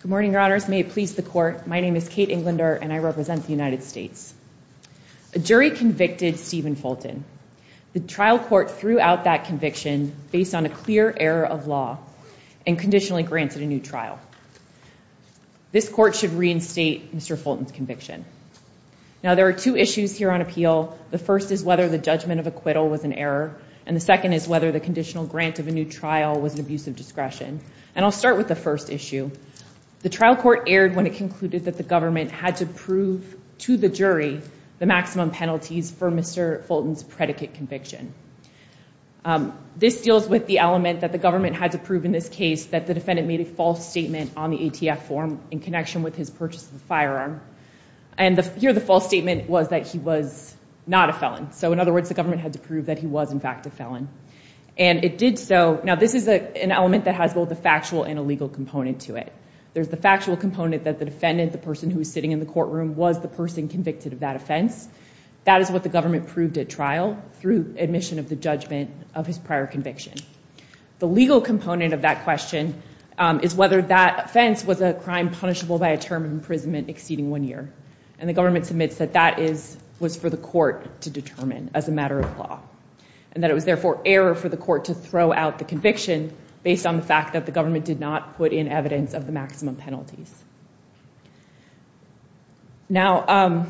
Good morning, your honors. May it please the court. My name is Kate Englander, and I represent the United States. A jury convicted Steven Fulton. The trial court threw out that conviction based on a clear error of law and conditionally granted a new trial. This court should reinstate Mr. Fulton's conviction. Now, there are two issues here on appeal. The first is whether the judgment of acquittal was an error, and the second is whether the conditional grant of a new trial was an abuse of discretion. And I'll start with the first issue. The trial court erred when it concluded that the government had to prove to the jury the maximum penalties for Mr. Fulton's predicate conviction. This deals with the element that the government had to prove in this case that the defendant made a false statement on the ATF form in connection with his purchase of the firearm. And here the false statement was that he was not a felon. So, in other words, the government had to prove that he was, in fact, a felon. And it did so. Now, this is an element that has both a factual and a legal component to it. There's the factual component that the defendant, the person who was sitting in the courtroom, was the person convicted of that offense. That is what the government proved at trial through admission of the judgment of his prior conviction. The legal component of that question is whether that offense was a crime punishable by a term of imprisonment exceeding one year. And the government submits that that was for the court to determine as a matter of law. And that it was, therefore, error for the court to throw out the conviction based on the fact that the government did not put in evidence of the maximum penalties. Now,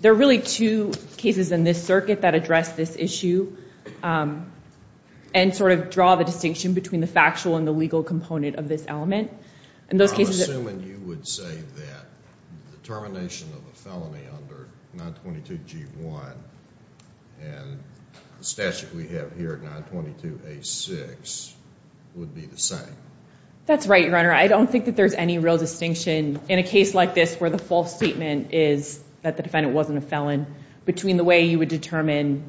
there are really two cases in this circuit that address this issue and sort of draw the distinction between the factual and the legal component of this element. I'm assuming you would say that the termination of a felony under 922 G1 and the statute we have here, 922 A6, would be the same. That's right, Your Honor. I don't think that there's any real distinction in a case like this where the false statement is that the defendant wasn't a felon between the way you would determine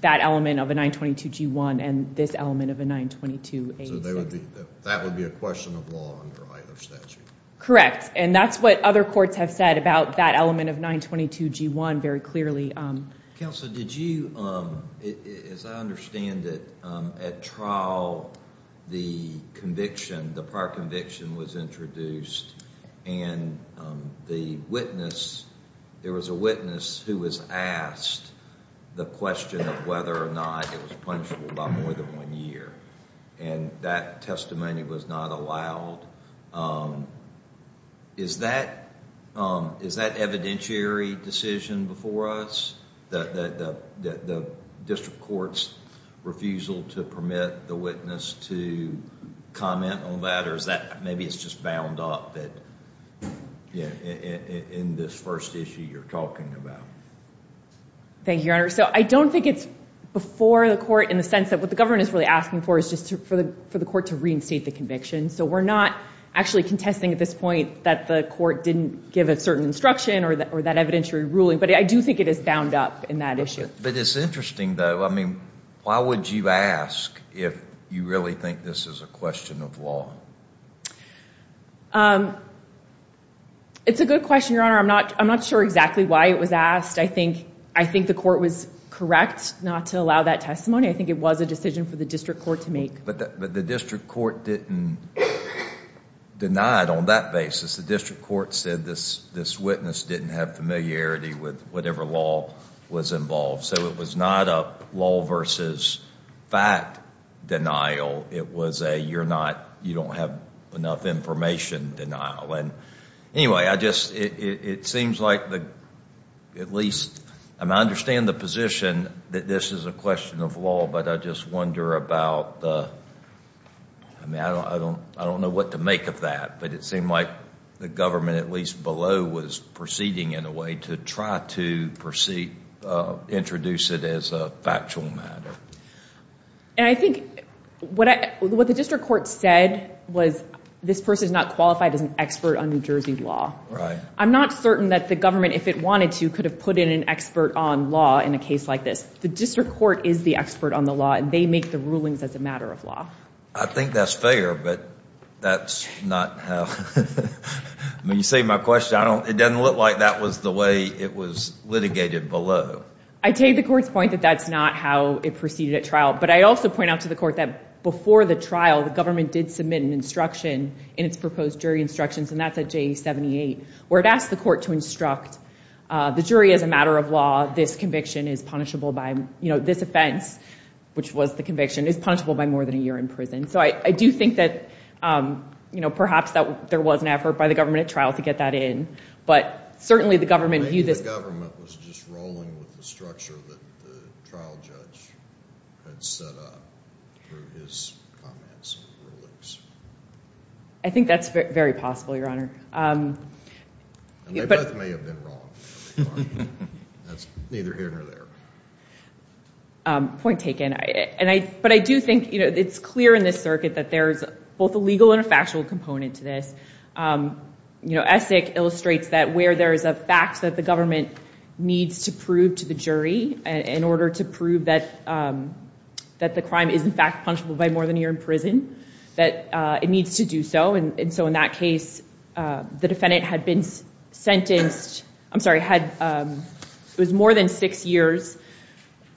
that element of a 922 G1 and this element of a 922 A6. So that would be a question of law under either statute. Correct. And that's what other courts have said about that element of 922 G1 very clearly. Counsel, did you, as I understand it, at trial the conviction, the prior conviction was introduced and the witness, there was a witness who was asked the question of whether or not it was punishable by more than one year. And that testimony was not allowed. Is that evidentiary decision before us, the district court's refusal to permit the witness to comment on that? Or is that maybe it's just bound up in this first issue you're talking about? Thank you, Your Honor. So I don't think it's before the court in the sense that what the government is really asking for is just for the court to reinstate the conviction. So we're not actually contesting at this point that the court didn't give a certain instruction or that evidentiary ruling. But I do think it is bound up in that issue. But it's interesting, though. I mean, why would you ask if you really think this is a question of law? It's a good question, Your Honor. I'm not sure exactly why it was asked. I think the court was correct not to allow that testimony. I think it was a decision for the district court to make. But the district court didn't deny it on that basis. The district court said this witness didn't have familiarity with whatever law was involved. So it was not a law versus fact denial. It was a you're not, you don't have enough information denial. Anyway, I just, it seems like at least, I mean, I understand the position that this is a question of law. But I just wonder about, I mean, I don't know what to make of that. But it seemed like the government, at least below, was proceeding in a way to try to introduce it as a factual matter. And I think what the district court said was this person is not qualified as an expert on New Jersey law. I'm not certain that the government, if it wanted to, could have put in an expert on law in a case like this. The district court is the expert on the law, and they make the rulings as a matter of law. I think that's fair. But that's not how, I mean, you say my question. I don't, it doesn't look like that was the way it was litigated below. I take the court's point that that's not how it proceeded at trial. But I also point out to the court that before the trial, the government did submit an instruction in its proposed jury instructions. And that's at J78, where it asked the court to instruct the jury as a matter of law, this conviction is punishable by, you know, this offense, which was the conviction, is punishable by more than a year in prison. So I do think that, you know, perhaps that there was an effort by the government at trial to get that in. But certainly the government viewed this. Maybe the government was just rolling with the structure that the trial judge had set up through his comments and rulings. I think that's very possible, Your Honor. And they both may have been wrong. That's neither here nor there. Point taken. And I, but I do think, you know, it's clear in this circuit that there's both a legal and a factual component to this. You know, Essek illustrates that where there is a fact that the government needs to prove to the jury in order to prove that the crime is, in fact, punishable by more than a year in prison, that it needs to do so. And so in that case, the defendant had been sentenced, I'm sorry, had, it was more than six years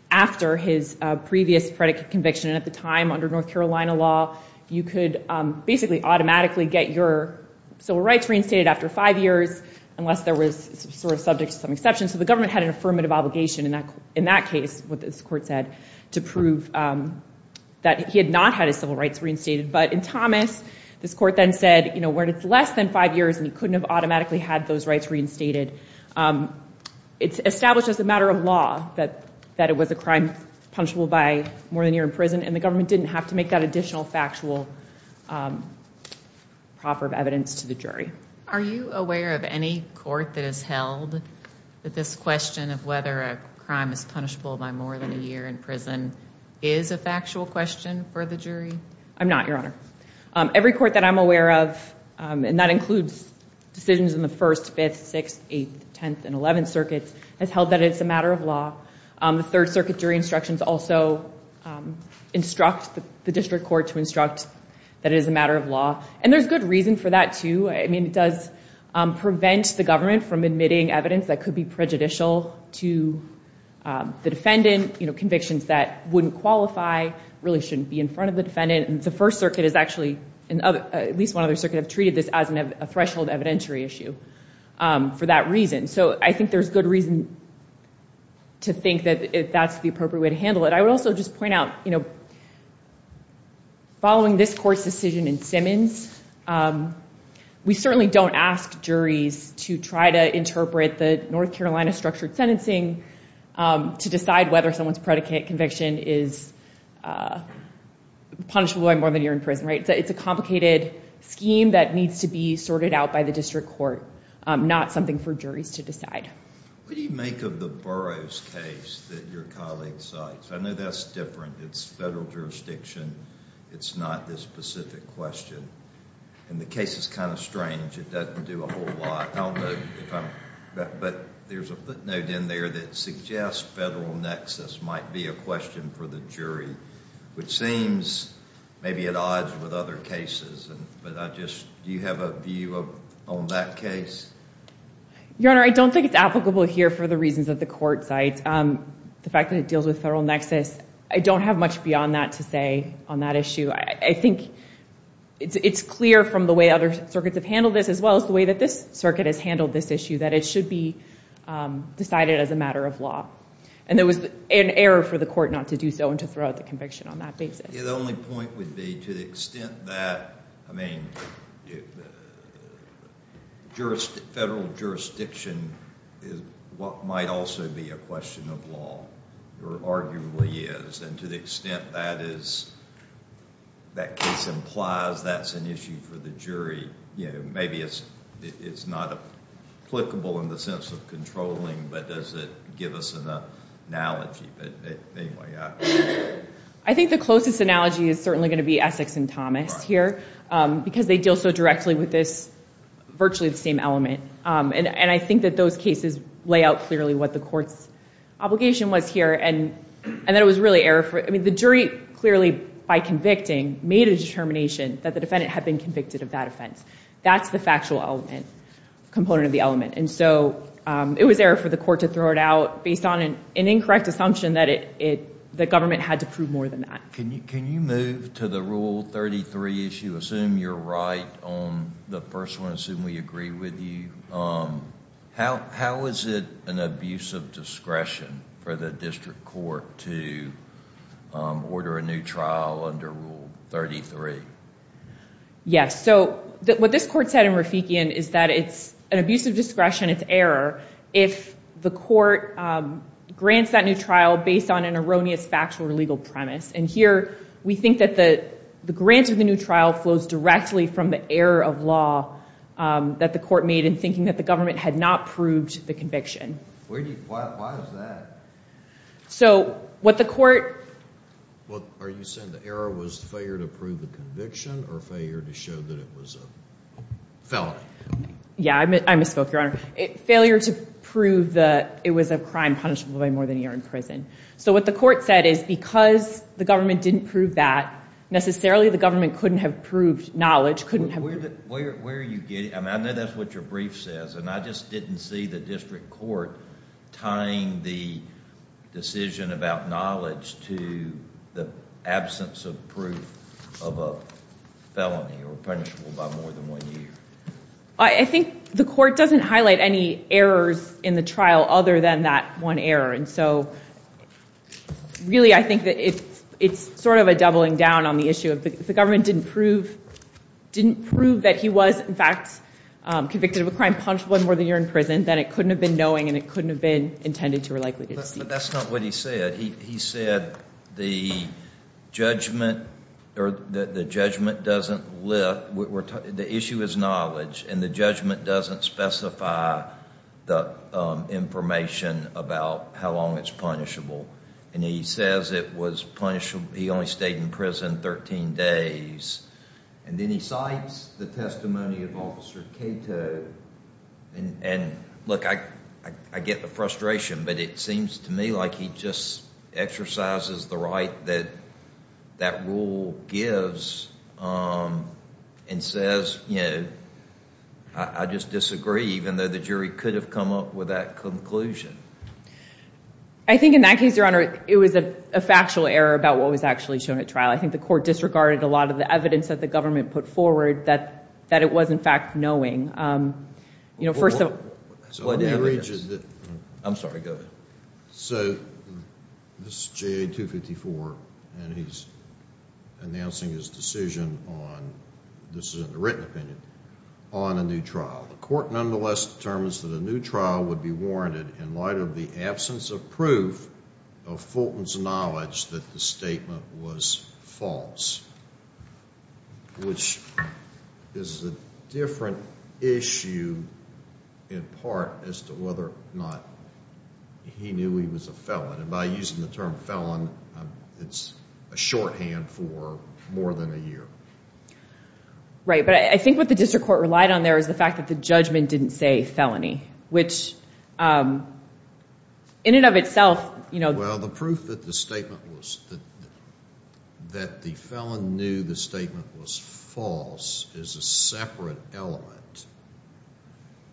after his previous predicate conviction. And at the time, under North Carolina law, you could basically automatically get your civil rights reinstated after five years unless there was sort of subject to some exception. So the government had an affirmative obligation in that case, what this court said, to prove that he had not had his civil rights reinstated. But in Thomas, this court then said, you know, when it's less than five years and he couldn't have automatically had those rights reinstated, it's established as a matter of law that it was a crime punishable by more than a year in prison. And the government didn't have to make that additional factual proffer of evidence to the jury. Are you aware of any court that has held that this question of whether a crime is punishable by more than a year in prison is a factual question for the jury? I'm not, Your Honor. Every court that I'm aware of, and that includes decisions in the First, Fifth, Sixth, Eighth, Tenth, and Eleventh Circuits, has held that it's a matter of law. The Third Circuit jury instructions also instruct the district court to instruct that it is a matter of law. And there's good reason for that, too. I mean, it does prevent the government from admitting evidence that could be prejudicial to the defendant. You know, convictions that wouldn't qualify really shouldn't be in front of the defendant. And the First Circuit is actually, at least one other circuit, have treated this as a threshold evidentiary issue for that reason. So I think there's good reason to think that that's the appropriate way to handle it. I would also just point out, you know, following this court's decision in Simmons, we certainly don't ask juries to try to interpret the North Carolina structured sentencing to decide whether someone's predicate conviction is punishable by more than a year in prison, right? It's a complicated scheme that needs to be sorted out by the district court, not something for juries to decide. What do you make of the Burroughs case that your colleague cites? I know that's different. It's federal jurisdiction. It's not this specific question. And the case is kind of strange. It doesn't do a whole lot. But there's a footnote in there that suggests federal nexus might be a question for the jury, which seems maybe at odds with other cases. But I just, do you have a view on that case? Your Honor, I don't think it's applicable here for the reasons that the court cites. The fact that it deals with federal nexus, I don't have much beyond that to say on that issue. I think it's clear from the way other circuits have handled this, as well as the way that this circuit has handled this issue, that it should be decided as a matter of law. And there was an error for the court not to do so and to throw out the conviction on that basis. The only point would be, to the extent that federal jurisdiction might also be a question of law, or arguably is. And to the extent that case implies that's an issue for the jury, maybe it's not applicable in the sense of controlling. But does it give us an analogy? I think the closest analogy is certainly going to be Essex and Thomas here, because they deal so directly with this, virtually the same element. And I think that those cases lay out clearly what the court's obligation was here. And that it was really error for, I mean, the jury clearly, by convicting, made a determination that the defendant had been convicted of that offense. That's the factual element, component of the element. And so it was error for the court to throw it out based on an incorrect assumption that the government had to prove more than that. Can you move to the Rule 33 issue? Assume you're right on the first one. Assume we agree with you. How is it an abuse of discretion for the district court to order a new trial under Rule 33? Yes. So what this court said in Rafikian is that it's an abuse of discretion, it's error, if the court grants that new trial based on an erroneous factual or legal premise. And here we think that the grant of the new trial flows directly from the error of law that the court made in thinking that the government had not proved the conviction. Why is that? So what the court... Well, are you saying the error was failure to prove the conviction or failure to show that it was a felony? Yeah, I misspoke, Your Honor. Failure to prove that it was a crime punishable by more than a year in prison. So what the court said is because the government didn't prove that, necessarily the government couldn't have proved knowledge, couldn't have... I know that's what your brief says, and I just didn't see the district court tying the decision about knowledge to the absence of proof of a felony or punishable by more than one year. I think the court doesn't highlight any errors in the trial other than that one error. And so really I think that it's sort of a doubling down on the issue. If the government didn't prove that he was, in fact, convicted of a crime punishable by more than a year in prison, then it couldn't have been knowing and it couldn't have been intended to or likely to deceive. But that's not what he said. He said the judgment doesn't lift, the issue is knowledge, and the judgment doesn't specify the information about how long it's punishable. And he says it was punishable, he only stayed in prison 13 days. And then he cites the testimony of Officer Cato. And look, I get the frustration, but it seems to me like he just exercises the right that that rule gives and says, you know, I just disagree, even though the jury could have come up with that conclusion. I think in that case, Your Honor, it was a factual error about what was actually shown at trial. I think the court disregarded a lot of the evidence that the government put forward that it was, in fact, knowing. You know, first of all... Let me read you the... I'm sorry, go ahead. So, this is JA 254, and he's announcing his decision on, this is a written opinion, on a new trial. The court nonetheless determines that a new trial would be warranted in light of the absence of proof of Fulton's knowledge that the statement was false. Which is a different issue, in part, as to whether or not he knew he was a felon. And by using the term felon, it's a shorthand for more than a year. Right, but I think what the district court relied on there was the fact that the judgment didn't say felony. Which, in and of itself, you know... Well, the proof that the statement was, that the felon knew the statement was false is a separate element.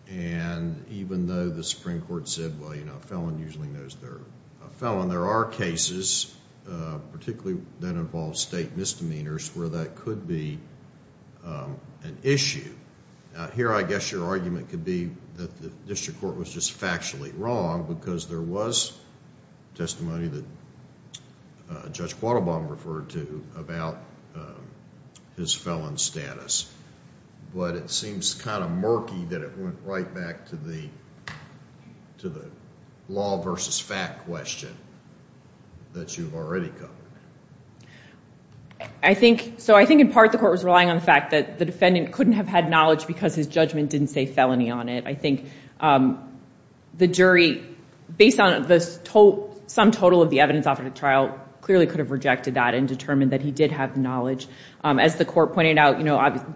And even though the Supreme Court said, well, you know, a felon usually knows they're a felon, there are cases, particularly that involve state misdemeanors, where that could be an issue. Here, I guess your argument could be that the district court was just factually wrong, because there was testimony that Judge Quattlebaum referred to about his felon status. But it seems kind of murky that it went right back to the law versus fact question that you've already covered. I think, so I think in part the court was relying on the fact that the defendant couldn't have had knowledge because his judgment didn't say felony on it. I think the jury, based on some total of the evidence offered at trial, clearly could have rejected that and determined that he did have knowledge. As the court pointed out,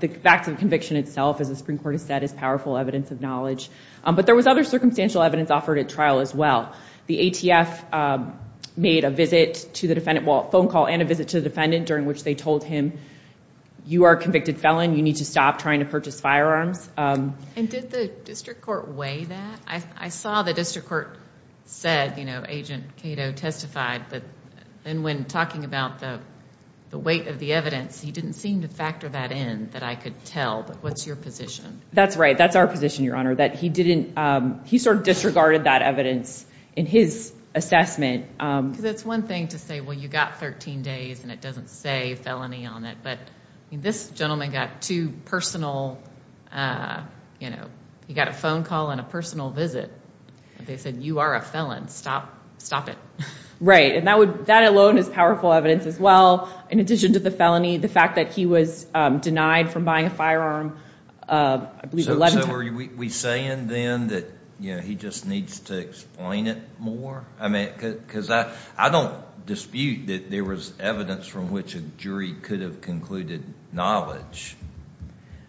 the fact of conviction itself, as the Supreme Court has said, is powerful evidence of knowledge. But there was other circumstantial evidence offered at trial as well. The ATF made a visit to the defendant, well, a phone call and a visit to the defendant during which they told him, you are a convicted felon, you need to stop trying to purchase firearms. And did the district court weigh that? I saw the district court said, you know, Agent Cato testified, and when talking about the weight of the evidence, he didn't seem to factor that in, that I could tell, but what's your position? That's right, that's our position, Your Honor, that he didn't, he sort of disregarded that evidence in his assessment. Because it's one thing to say, well, you got 13 days and it doesn't say felony on it, but this gentleman got two personal, you know, he got a phone call and a personal visit. They said, you are a felon, stop it. Right, and that alone is powerful evidence as well, in addition to the felony, the fact that he was denied from buying a firearm. So are we saying then that he just needs to explain it more? I mean, because I don't dispute that there was evidence from which a jury could have concluded knowledge.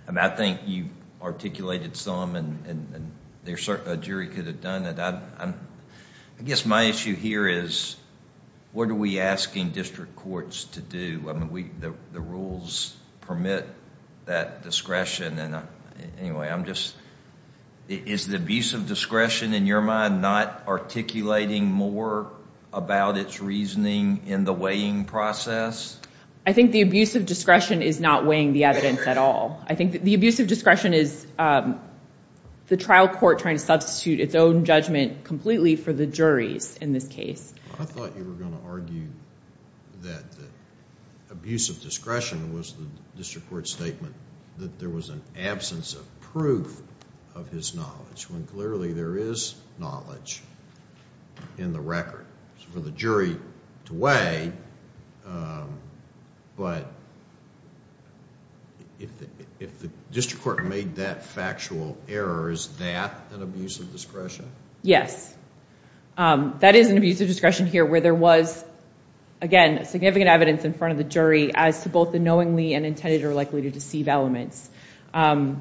I mean, I think you articulated some and a jury could have done it. I guess my issue here is, what are we asking district courts to do? I mean, the rules permit that discretion. Anyway, I'm just, is the abuse of discretion in your mind not articulating more about its reasoning in the weighing process? I think the abuse of discretion is not weighing the evidence at all. I think the abuse of discretion is the trial court trying to substitute its own judgment completely for the jury's in this case. I thought you were going to argue that the abuse of discretion was the district court's statement that there was an absence of proof of his knowledge, when clearly there is knowledge in the record for the jury to weigh, but if the district court made that factual error, is that an abuse of discretion? Yes, that is an abuse of discretion here where there was, again, significant evidence in front of the jury as to both the knowingly and intended or likely to deceive elements. And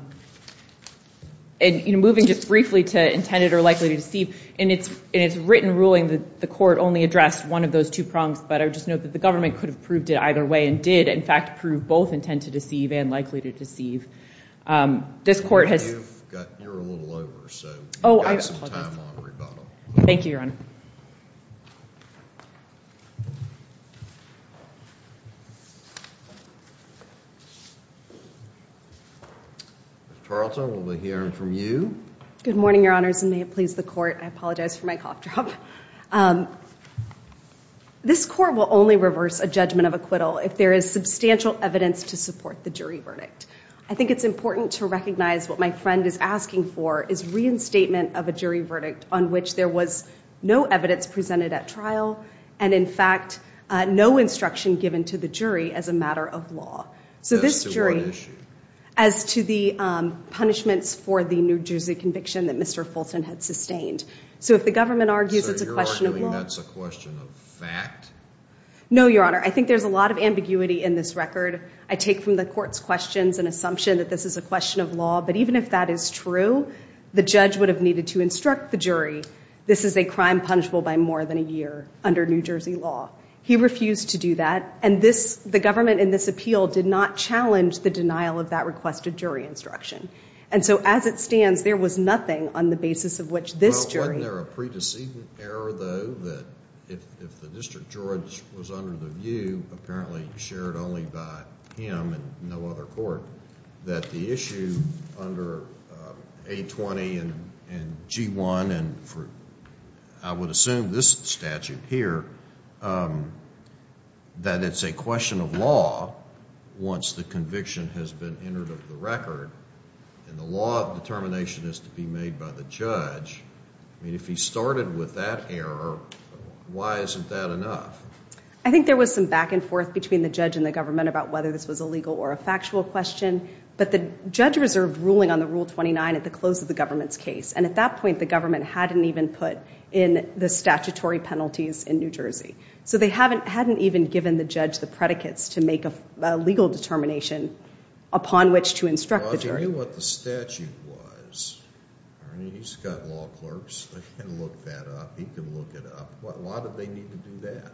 moving just briefly to intended or likely to deceive, in its written ruling, the court only addressed one of those two prongs, but I would just note that the government could have proved it either way and did, in fact, prove both intended to deceive and likely to deceive. You're a little over, so you've got some time on rebuttal. Thank you, Your Honor. Ms. Tarleton, we'll be hearing from you. Good morning, Your Honors, and may it please the Court. I apologize for my cough drop. This Court will only reverse a judgment of acquittal if there is substantial evidence to support the jury verdict. I think it's important to recognize what my friend is asking for is reinstatement of a jury verdict on which there was no evidence presented at trial and, in fact, no instruction given to the jury as a matter of law. As to what issue? As to the punishments for the New Jersey conviction that Mr. Fulton had sustained. So if the government argues it's a question of law... So you're arguing that's a question of fact? No, Your Honor. I think there's a lot of ambiguity in this record. I take from the Court's questions an assumption that this is a question of law, but even if that is true, the judge would have needed to instruct the jury this is a crime punishable by more than a year under New Jersey law. He refused to do that, and the government in this appeal did not challenge the denial of that requested jury instruction. And so, as it stands, there was nothing on the basis of which this jury... Well, wasn't there a pre-decedent error, though, that if the District Judge was under the view, apparently shared only by him and no other court, that the issue under A-20 and G-1, and I would assume this statute here, that it's a question of law once the conviction has been entered into the record, and the law of determination is to be made by the judge, I mean, if he started with that error, why isn't that enough? I think there was some back and forth between the judge and the government about whether this was a legal or a factual question, but the judge reserved ruling on the Rule 29 at the close of the government's case. And at that point, the government hadn't even put in the statutory penalties in New Jersey. So they hadn't even given the judge the predicates to make a legal determination upon which to instruct the jury. Well, if you knew what the statute was, I mean, he's got law clerks. They can look that up. He can look it up. Why did they need to do that?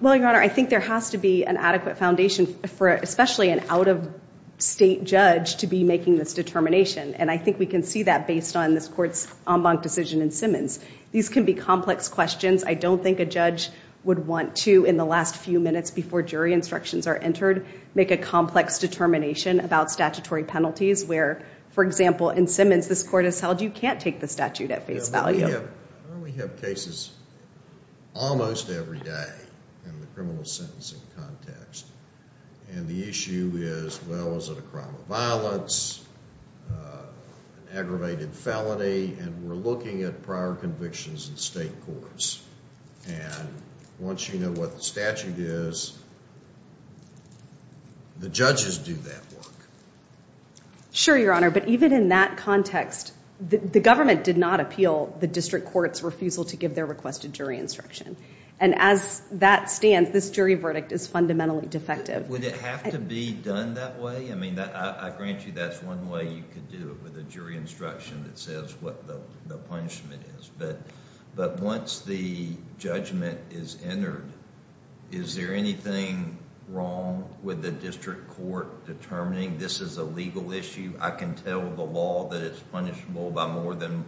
Well, Your Honor, I think there has to be an adequate foundation for especially an out-of-state judge to be making this determination, and I think we can see that based on this Court's en banc decision in Simmons. These can be complex questions. I don't think a judge would want to, in the last few minutes before jury instructions are entered, make a complex determination about statutory penalties where, for example, in Simmons, this Court has held you can't take the statute at face value. We have cases almost every day in the criminal sentencing context, and the issue is, well, is it a crime of violence, an aggravated felony? And we're looking at prior convictions in state courts, and once you know what the statute is, the judges do that work. Sure, Your Honor, but even in that context, the government did not appeal the district court's refusal to give their requested jury instruction, and as that stands, this jury verdict is fundamentally defective. Would it have to be done that way? I mean, I grant you that's one way you could do it with a jury instruction that says what the punishment is, but once the judgment is entered, is there anything wrong with the district court determining this is a legal issue? I can tell the law that it's punishable by more than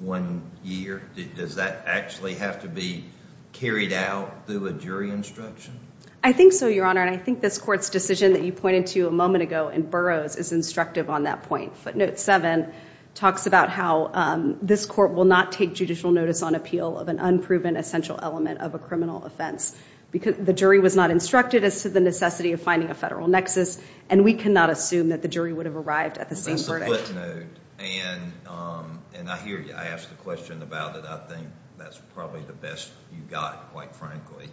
one year. Does that actually have to be carried out through a jury instruction? I think so, Your Honor, and I think this Court's decision that you pointed to a moment ago in Burroughs is instructive on that point. Footnote 7 talks about how this Court will not take judicial notice on appeal of an unproven essential element of a criminal offense. The jury was not instructed as to the necessity of finding a federal nexus, and we cannot assume that the jury would have arrived at the same verdict. That's the footnote, and I hear you. I asked the question about it. I think that's probably the best you got, quite frankly.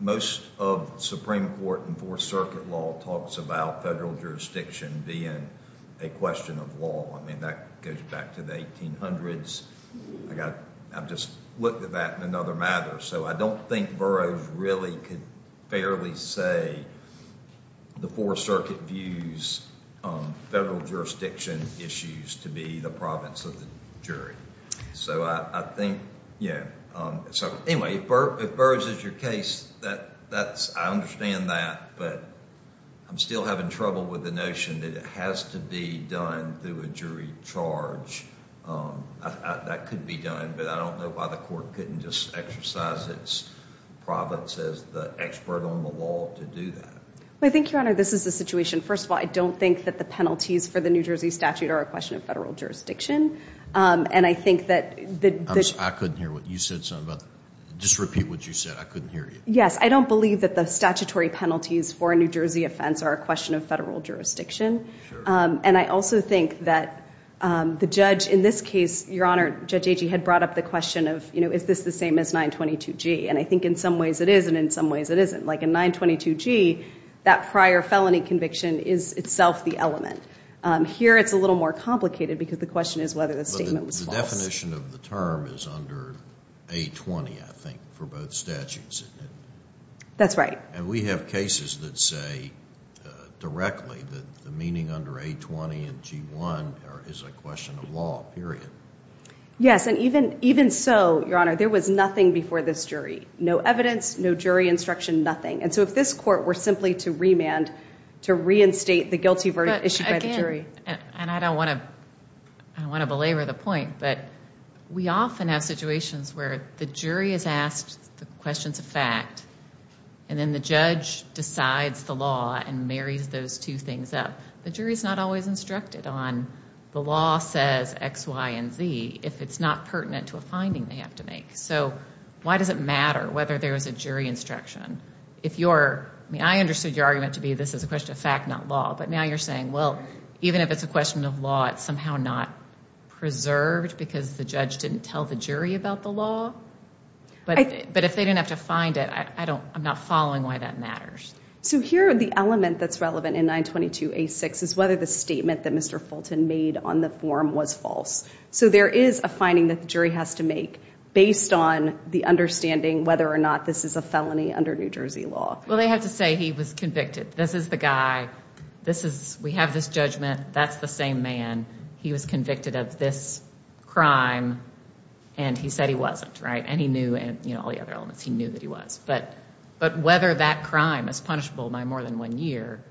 Most of the Supreme Court and Fourth Circuit law talks about federal jurisdiction being a question of law. That goes back to the 1800s. I've just looked at that in another matter, so I don't think Burroughs really could fairly say the Fourth Circuit views federal jurisdiction issues to be the province of the jury. If Burroughs is your case, I understand that, but I'm still having trouble with the notion that it has to be done through a jury charge. That could be done, but I don't know why the Court couldn't just exercise its province as the expert on the law to do that. I think, Your Honor, this is the situation. First of all, I don't think that the penalties for the New Jersey statute are a question of federal jurisdiction. I couldn't hear what you said. Just repeat what you said. Yes, I don't believe that the statutory penalties for a New Jersey offense are a question of federal jurisdiction. I also think that the judge in this case, Your Honor, Judge Agee had brought up the question of is this the same as 922G? I think in some ways it is and in some ways it isn't. Like in 922G, that prior felony conviction is itself the element. Here it's a little more complicated because the question is whether the statement was false. The definition of the term is under 820, I think, for both statutes. That's right. And we have cases that say directly that the meaning under 820 and G1 is a question of law, period. Yes, and even so, Your Honor, there was nothing before this jury. No evidence, no jury instruction, nothing. And so if this Court were simply to remand, to reinstate the guilty verdict issued by the jury. And I don't want to belabor the point, but we often have situations where the jury is asked the questions of fact, and then the judge decides the law and marries those two things up. The jury is not always instructed on the law says X, Y, and Z if it's not pertinent to a finding they have to make. So why does it matter whether there is a jury instruction? I mean, I understood your argument to be this is a question of fact not law, but now you're saying, well, even if it's a question of law, it's somehow not preserved because the judge didn't tell the jury about the law? But if they didn't have to find it, I'm not following why that matters. So here are the element that's relevant in 922A6 is whether the statement that Mr. Fulton made on the form was false. So there is a finding that the jury has to make based on the understanding whether or not this is a felony under New Jersey law. Well, they have to say he was convicted. This is the guy. We have this judgment. That's the same man. He was convicted of this crime and he said he wasn't. And he knew all the other elements. He knew that he was. But whether that crime is punishable by more than one year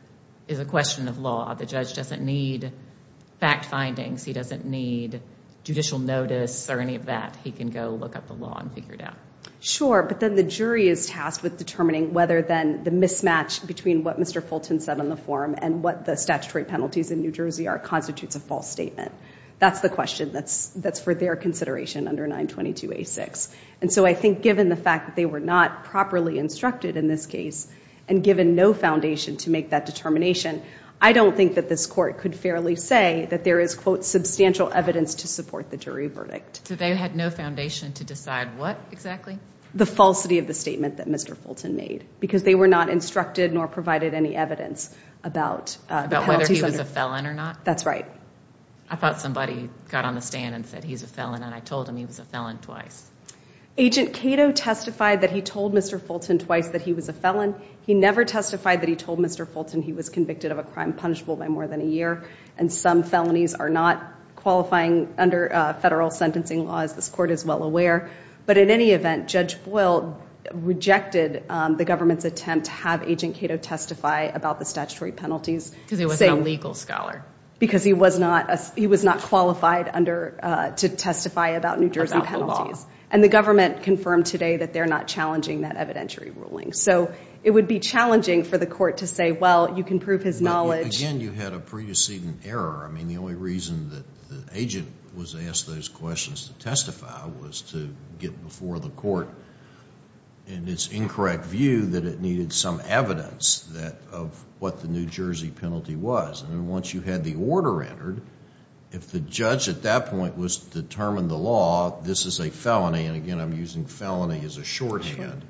is a question of law. The judge doesn't need fact findings. He doesn't need judicial notice or any of that. He can go look up the law and figure it out. Sure, but then the jury is tasked with determining whether then the mismatch between what Mr. Fulton said on the form and what the statutory penalties in New Jersey are constitutes a false statement. That's the question that's for their consideration under 922A6. And so I think given the fact that they were not properly instructed in this case and given no foundation to make that determination, I don't think that this Court could fairly say that there is, quote, substantial evidence to support the jury verdict. So they had no foundation to decide what exactly? The falsity of the statement that Mr. Fulton made, because they were not instructed nor provided any evidence about the penalties. About whether he was a felon or not? That's right. I thought somebody got on the stand and said he's a felon and I told him he was a felon twice. Agent Cato testified that he told Mr. Fulton twice that he was a felon. He never testified that he told Mr. Fulton he was convicted of a crime punishable by more than a year. And some felonies are not qualifying under federal sentencing law, as this Court is well aware. But in any event, Judge Boyle rejected the government's attempt to have Agent Cato testify about the statutory penalties. Because he was no legal scholar. Because he was not qualified to testify about New Jersey penalties. And the government confirmed today that they're not challenging that evidentiary ruling. So it would be challenging for the Court to say, well you can prove his knowledge. Again, you had a pre-decedent error. I mean, the only reason that the agent was asked those questions to testify was to get before the Court in its incorrect view that it needed some evidence of what the New Jersey penalty was. And once you had the order entered, if the judge at that point was to determine the law this is a felony. And again, I'm using felony as a shorthand.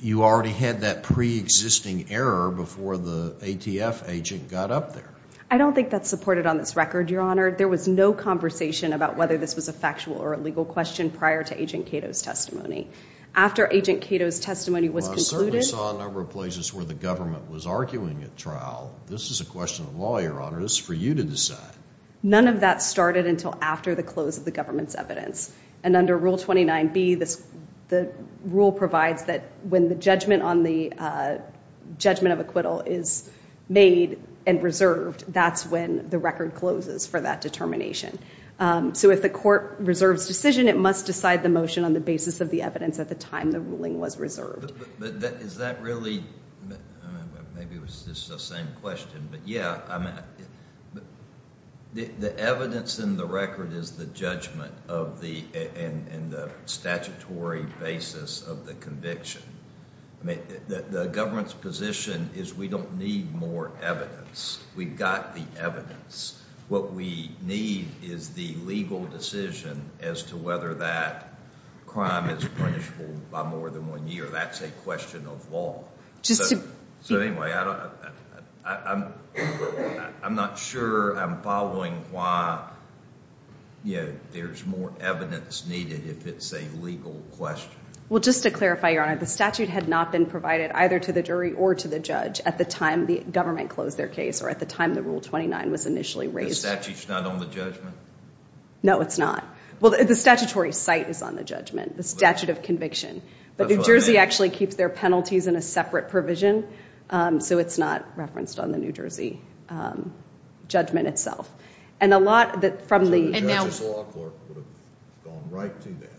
You already had that pre-existing error before the ATF agent got up there. I don't think that's supported on this record, Your Honor. There was no conversation about whether this was a factual or a legal question prior to Agent Cato's testimony. After Agent Cato's testimony was concluded... Well, I certainly saw a number of places where the government was arguing at trial. This is a question of law, Your Honor. This is for you to decide. None of that started until after the close of the government's evidence. And under Rule 29b the rule provides that when the judgment on the judgment of acquittal is made and reserved that's when the record closes for that determination. So if the court reserves decision, it must decide the motion on the basis of the evidence at the time the ruling was reserved. But is that really... Maybe it was just the same question. But yeah, I mean... The evidence in the record is the judgment of the... and the statutory basis of the conviction. The government's position is we don't need more evidence. We've got the evidence. What we need is the legal decision as to whether that crime is punishable by more than one year. That's a question of law. So anyway, I'm not sure I'm following why there's more evidence needed if it's a legal question. Well, just to clarify, Your Honor, the statute had not been provided either to the jury or to the judge at the time the government closed their case or at the time the Rule 29 was initially raised. The statute's not on the judgment? No, it's not. Well, the statutory site is on the judgment, the statute of conviction. But New Jersey actually keeps their penalties in a separate provision so it's not referenced on the New Jersey judgment itself. And a lot from the... So the judge's law court would have gone right to that?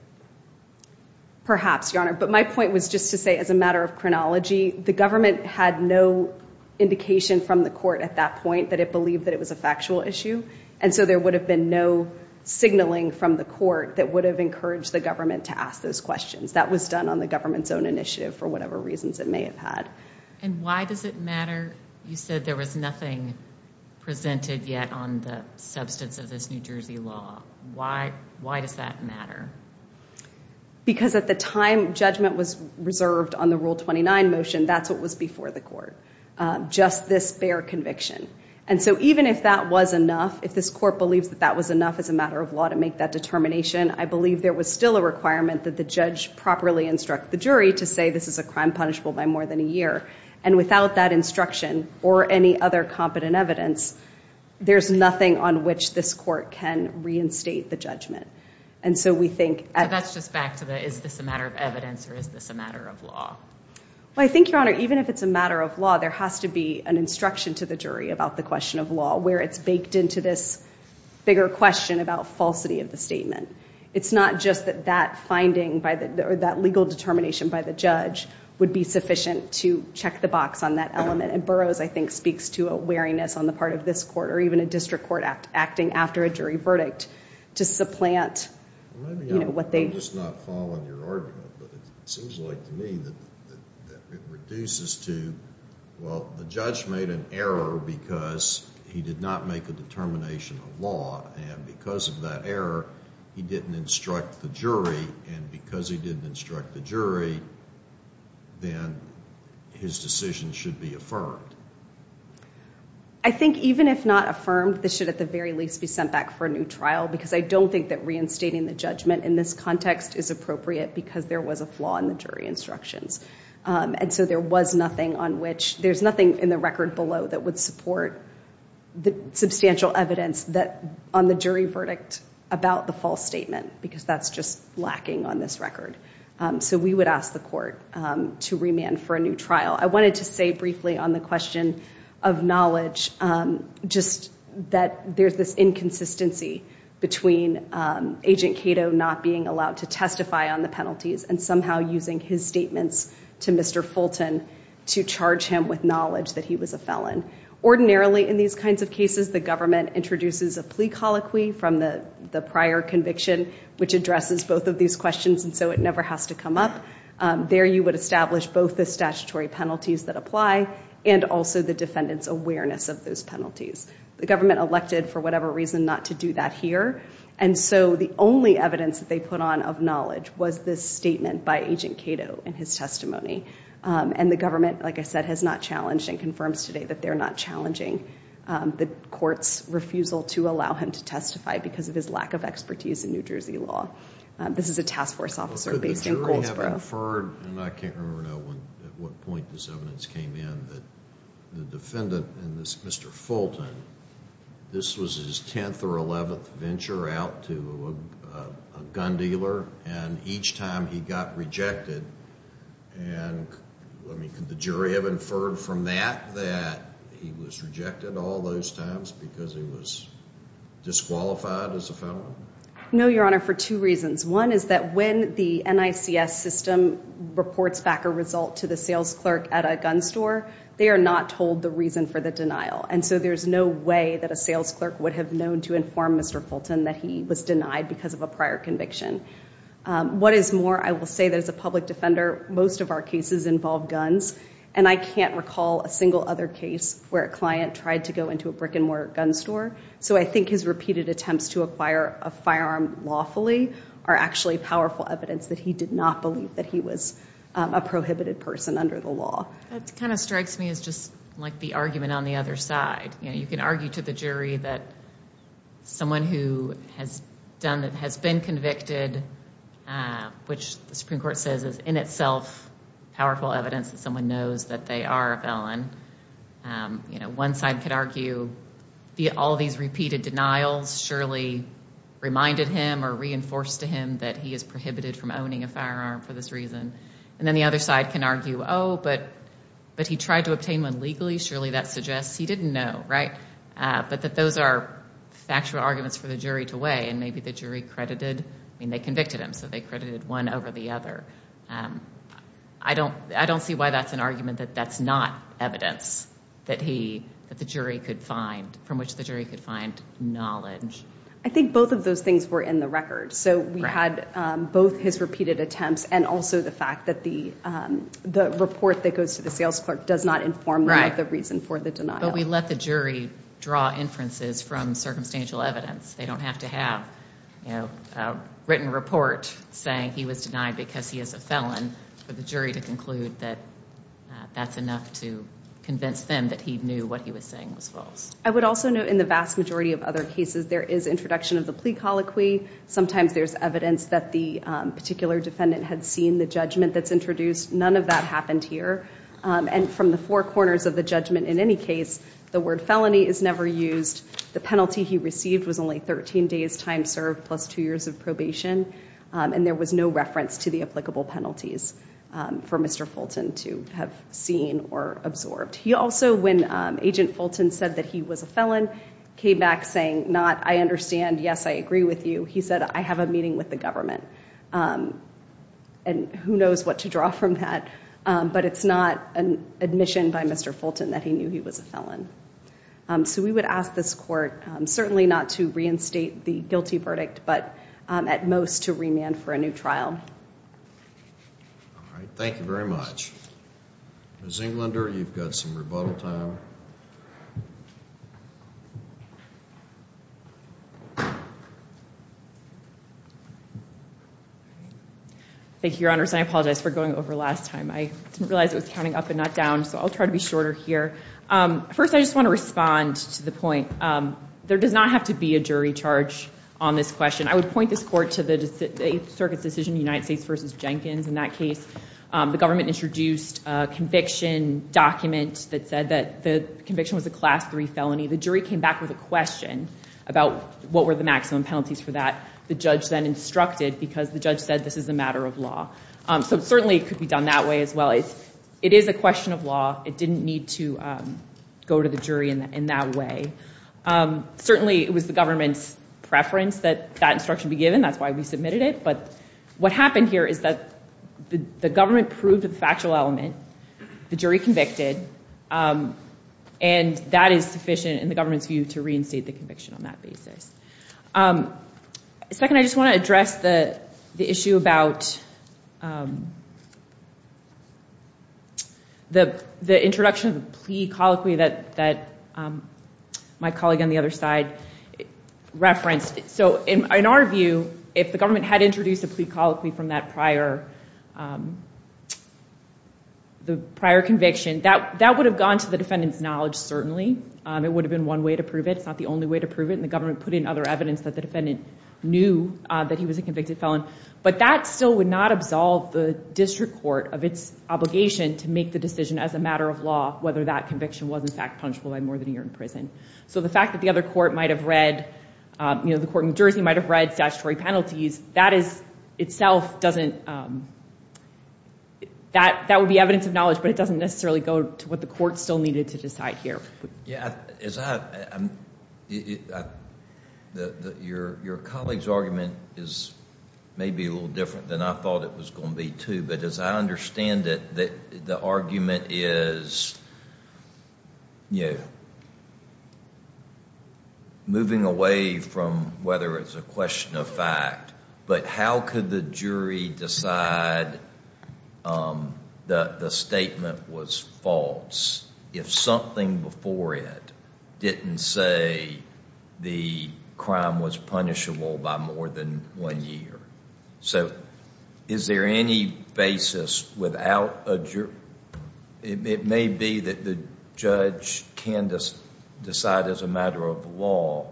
Perhaps, Your Honor. But my point was just to say as a matter of chronology, the government had no indication from the court at that point that it believed that it was a factual issue. And so there would have been no signaling from the court that would have encouraged the government to ask those questions. That was done on the government's own initiative for whatever reasons it may have had. And why does it matter? You said there was nothing presented yet on the substance of this New Jersey law. Why does that matter? Because at the time judgment was reserved on the Rule 29 motion, that's what was before the court. Just this bare conviction. And so even if that was enough, if this court believes that that was enough as a matter of law to make that determination, I believe there was still a requirement that the judge properly instruct the jury to say this is a crime punishable by more than a year. And without that instruction or any other competent evidence, there's nothing on which this court can reinstate the judgment. And so we think So that's just back to the is this a matter of evidence or is this a matter of law? Well, I think, Your Honor, even if it's a matter of law, there has to be an instruction to the jury about the question of law where it's baked into this bigger question about falsity of the statement. It's not just that that finding or that legal determination by the judge would be sufficient to check the box on that element. And Burroughs I think speaks to a wariness on the part of this court or even a district court acting after a jury verdict to supplant what they... I'm just not following your argument but it seems like to me that it reduces to well, the judge made an error because he did not make a determination of law and because of that error he didn't instruct the jury and because he didn't instruct the jury then his decision should be affirmed. I think even if not affirmed, this should at the very least be sent back for a new trial because I don't think that reinstating the judgment in this context is appropriate because there was a flaw in the jury instructions. And so there was nothing on which there's nothing in the record below that would support the substantial evidence that on the jury verdict about the false statement because that's just lacking on this record. So we would ask the court to remand for a new trial. I wanted to say briefly on the question of knowledge just that there's this inconsistency between Agent Cato not being allowed to testify on the penalties and somehow using his statements to Mr. Fulton to charge him with knowledge that he was a felon. Ordinarily in these kinds of cases the government introduces a plea colloquy from the prior conviction which addresses both of these questions and so it never has to come up. There you would establish both the statutory penalties that apply and also the defendant's awareness of those penalties. The government elected for whatever reason not to do that here and so the only evidence that they put on of knowledge was this statement by Agent Cato in his testimony and the government like I said has not challenged and confirms today that they're not challenging the court's refusal to allow him to testify because of his lack of expertise in New Jersey law. This is a task force officer based in Coltsboro. I can't remember at what point this evidence came in that the defendant and this Mr. Fulton this was his 10th or 11th venture out to a gun dealer and each time he got rejected and could the jury have inferred from that that he was rejected all those times because he was disqualified as a felon? No Your Honor Your Honor for two reasons. One is that when the NICS system reports back a result to the sales clerk at a gun store they are not told the reason for the denial and so there's no way that a sales clerk would have known to inform Mr. Fulton that he was denied because of a prior conviction. What is more I will say that as a public defender most of our cases involve guns and I can't recall a single other case where a client tried to go into a brick and mortar gun store so I think his repeated attempts to acquire a firearm lawfully are actually powerful evidence that he did not believe that he was a prohibited person under the law. That kind of strikes me as just like the argument on the other side you can argue to the jury that someone who has been convicted which the Supreme Court says is in itself powerful evidence that someone knows that they are a felon one side could argue all these repeated denials surely reminded him or reinforced to him that he is prohibited from owning a firearm for this reason and then the other side can argue oh but he tried to obtain one legally surely that suggests he didn't know right but that those are factual arguments for the jury to weigh and maybe the jury credited they convicted him so they credited one over the other I don't see why that's an argument that that's not evidence that he that the jury could find from which the jury could find knowledge I think both of those things were in the record so we had both his repeated attempts and also the fact that the report that goes to the sales clerk does not inform the reason for the denial but we let the jury draw inferences from circumstantial evidence they don't have to have written report saying he was denied because he is a felon for the jury to conclude that that's enough to convince them that he knew what he was saying was false. I would also note in the vast majority of other cases there is introduction of the plea colloquy sometimes there's evidence that the particular defendant had seen the judgment that's introduced none of that happened here and from the four corners of the judgment in any case the word felony is never used the penalty he received was only 13 days time served plus two years of probation and there was no reference to the applicable penalties for Mr. Fulton to have seen or absorbed he also when Agent Fulton said that he was a felon came back saying not I understand yes I agree with you he said I have a meeting with the government and who knows what to draw from that but it's not an admission by Mr. Fulton that he knew he was a felon so we would ask this court certainly not to reinstate the guilty verdict but at most to remand for a new trial thank you very much Ms. Englander you've got some thank you your honors and I apologize for going over last time I didn't realize it was counting up and not down so I'll try to be shorter here first I just want to respond to the point there does not have to be a jury charge on this question I would point this court to the circuit's decision United States versus Jenkins in that case the government introduced a conviction document that said that the conviction was a class 3 felony the jury came back with a question about what were the maximum penalties for that the judge then instructed because the judge said this is a matter of law so certainly it could be done that way as well it is a question of law it didn't need to go to the jury in that way certainly it was the government's preference that that instruction be given that's why we submitted it but what happened here is that the government proved the factual element the jury convicted and that is sufficient in the government's view to reinstate the conviction on that basis second I just want to address the issue about the introduction of the plea colloquy that my colleague on the other side referenced in our view if the government had introduced a plea colloquy from that prior the prior conviction that would have gone to the defendant's knowledge certainly it would have been one way to prove it it's not the only way to prove it and the government put in other evidence that the defendant knew that he was a convicted felon but that still would not absolve the district court of its obligation to make the decision as a matter of law whether that conviction was in fact punishable by more than a year in prison so the fact that the other court might have read the court in Jersey might have read statutory penalties that is itself doesn't that would be evidence of knowledge but it doesn't necessarily go to what the court still needed to decide here your colleague's argument is maybe a little different than I thought it was going to be too but as I understand it the argument is moving away from whether it's a question of fact but how could the jury decide that the statement was false if something before it didn't say the crime was punishable by more than one year so is there any basis without a jury it may be that the judge can decide as a matter of law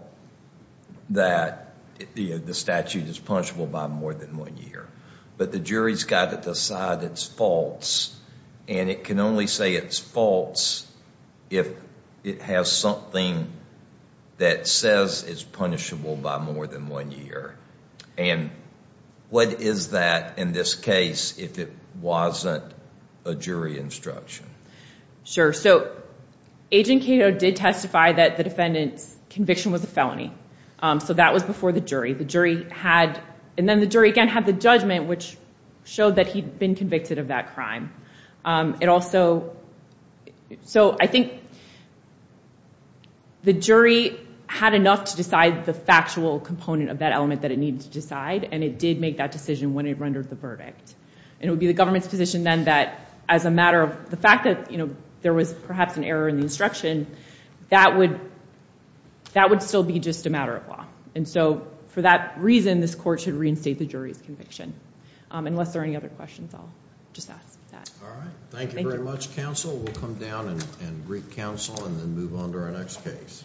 that the statute is punishable by more than one year but the jury's got to decide it's false and it can only say it's false if it has something that says it's punishable by more than one year and what is that in this case if it wasn't a jury instruction sure so agent Cato did testify that the defendant's conviction was a felony so that was before the jury the jury had and then the jury again had the judgment which showed that he had been convicted of that crime it also so I think the jury had enough to decide the factual component of that element that it needed to decide and it did make that decision when it rendered the verdict and it would be the government's position then that as a matter of the fact that there was perhaps an error in the instruction that would that would still be just a matter of law and so for that reason this court should reinstate the jury's conviction unless there are any other questions I'll just ask that thank you very much counsel we'll come down and greet counsel and then move on to our next case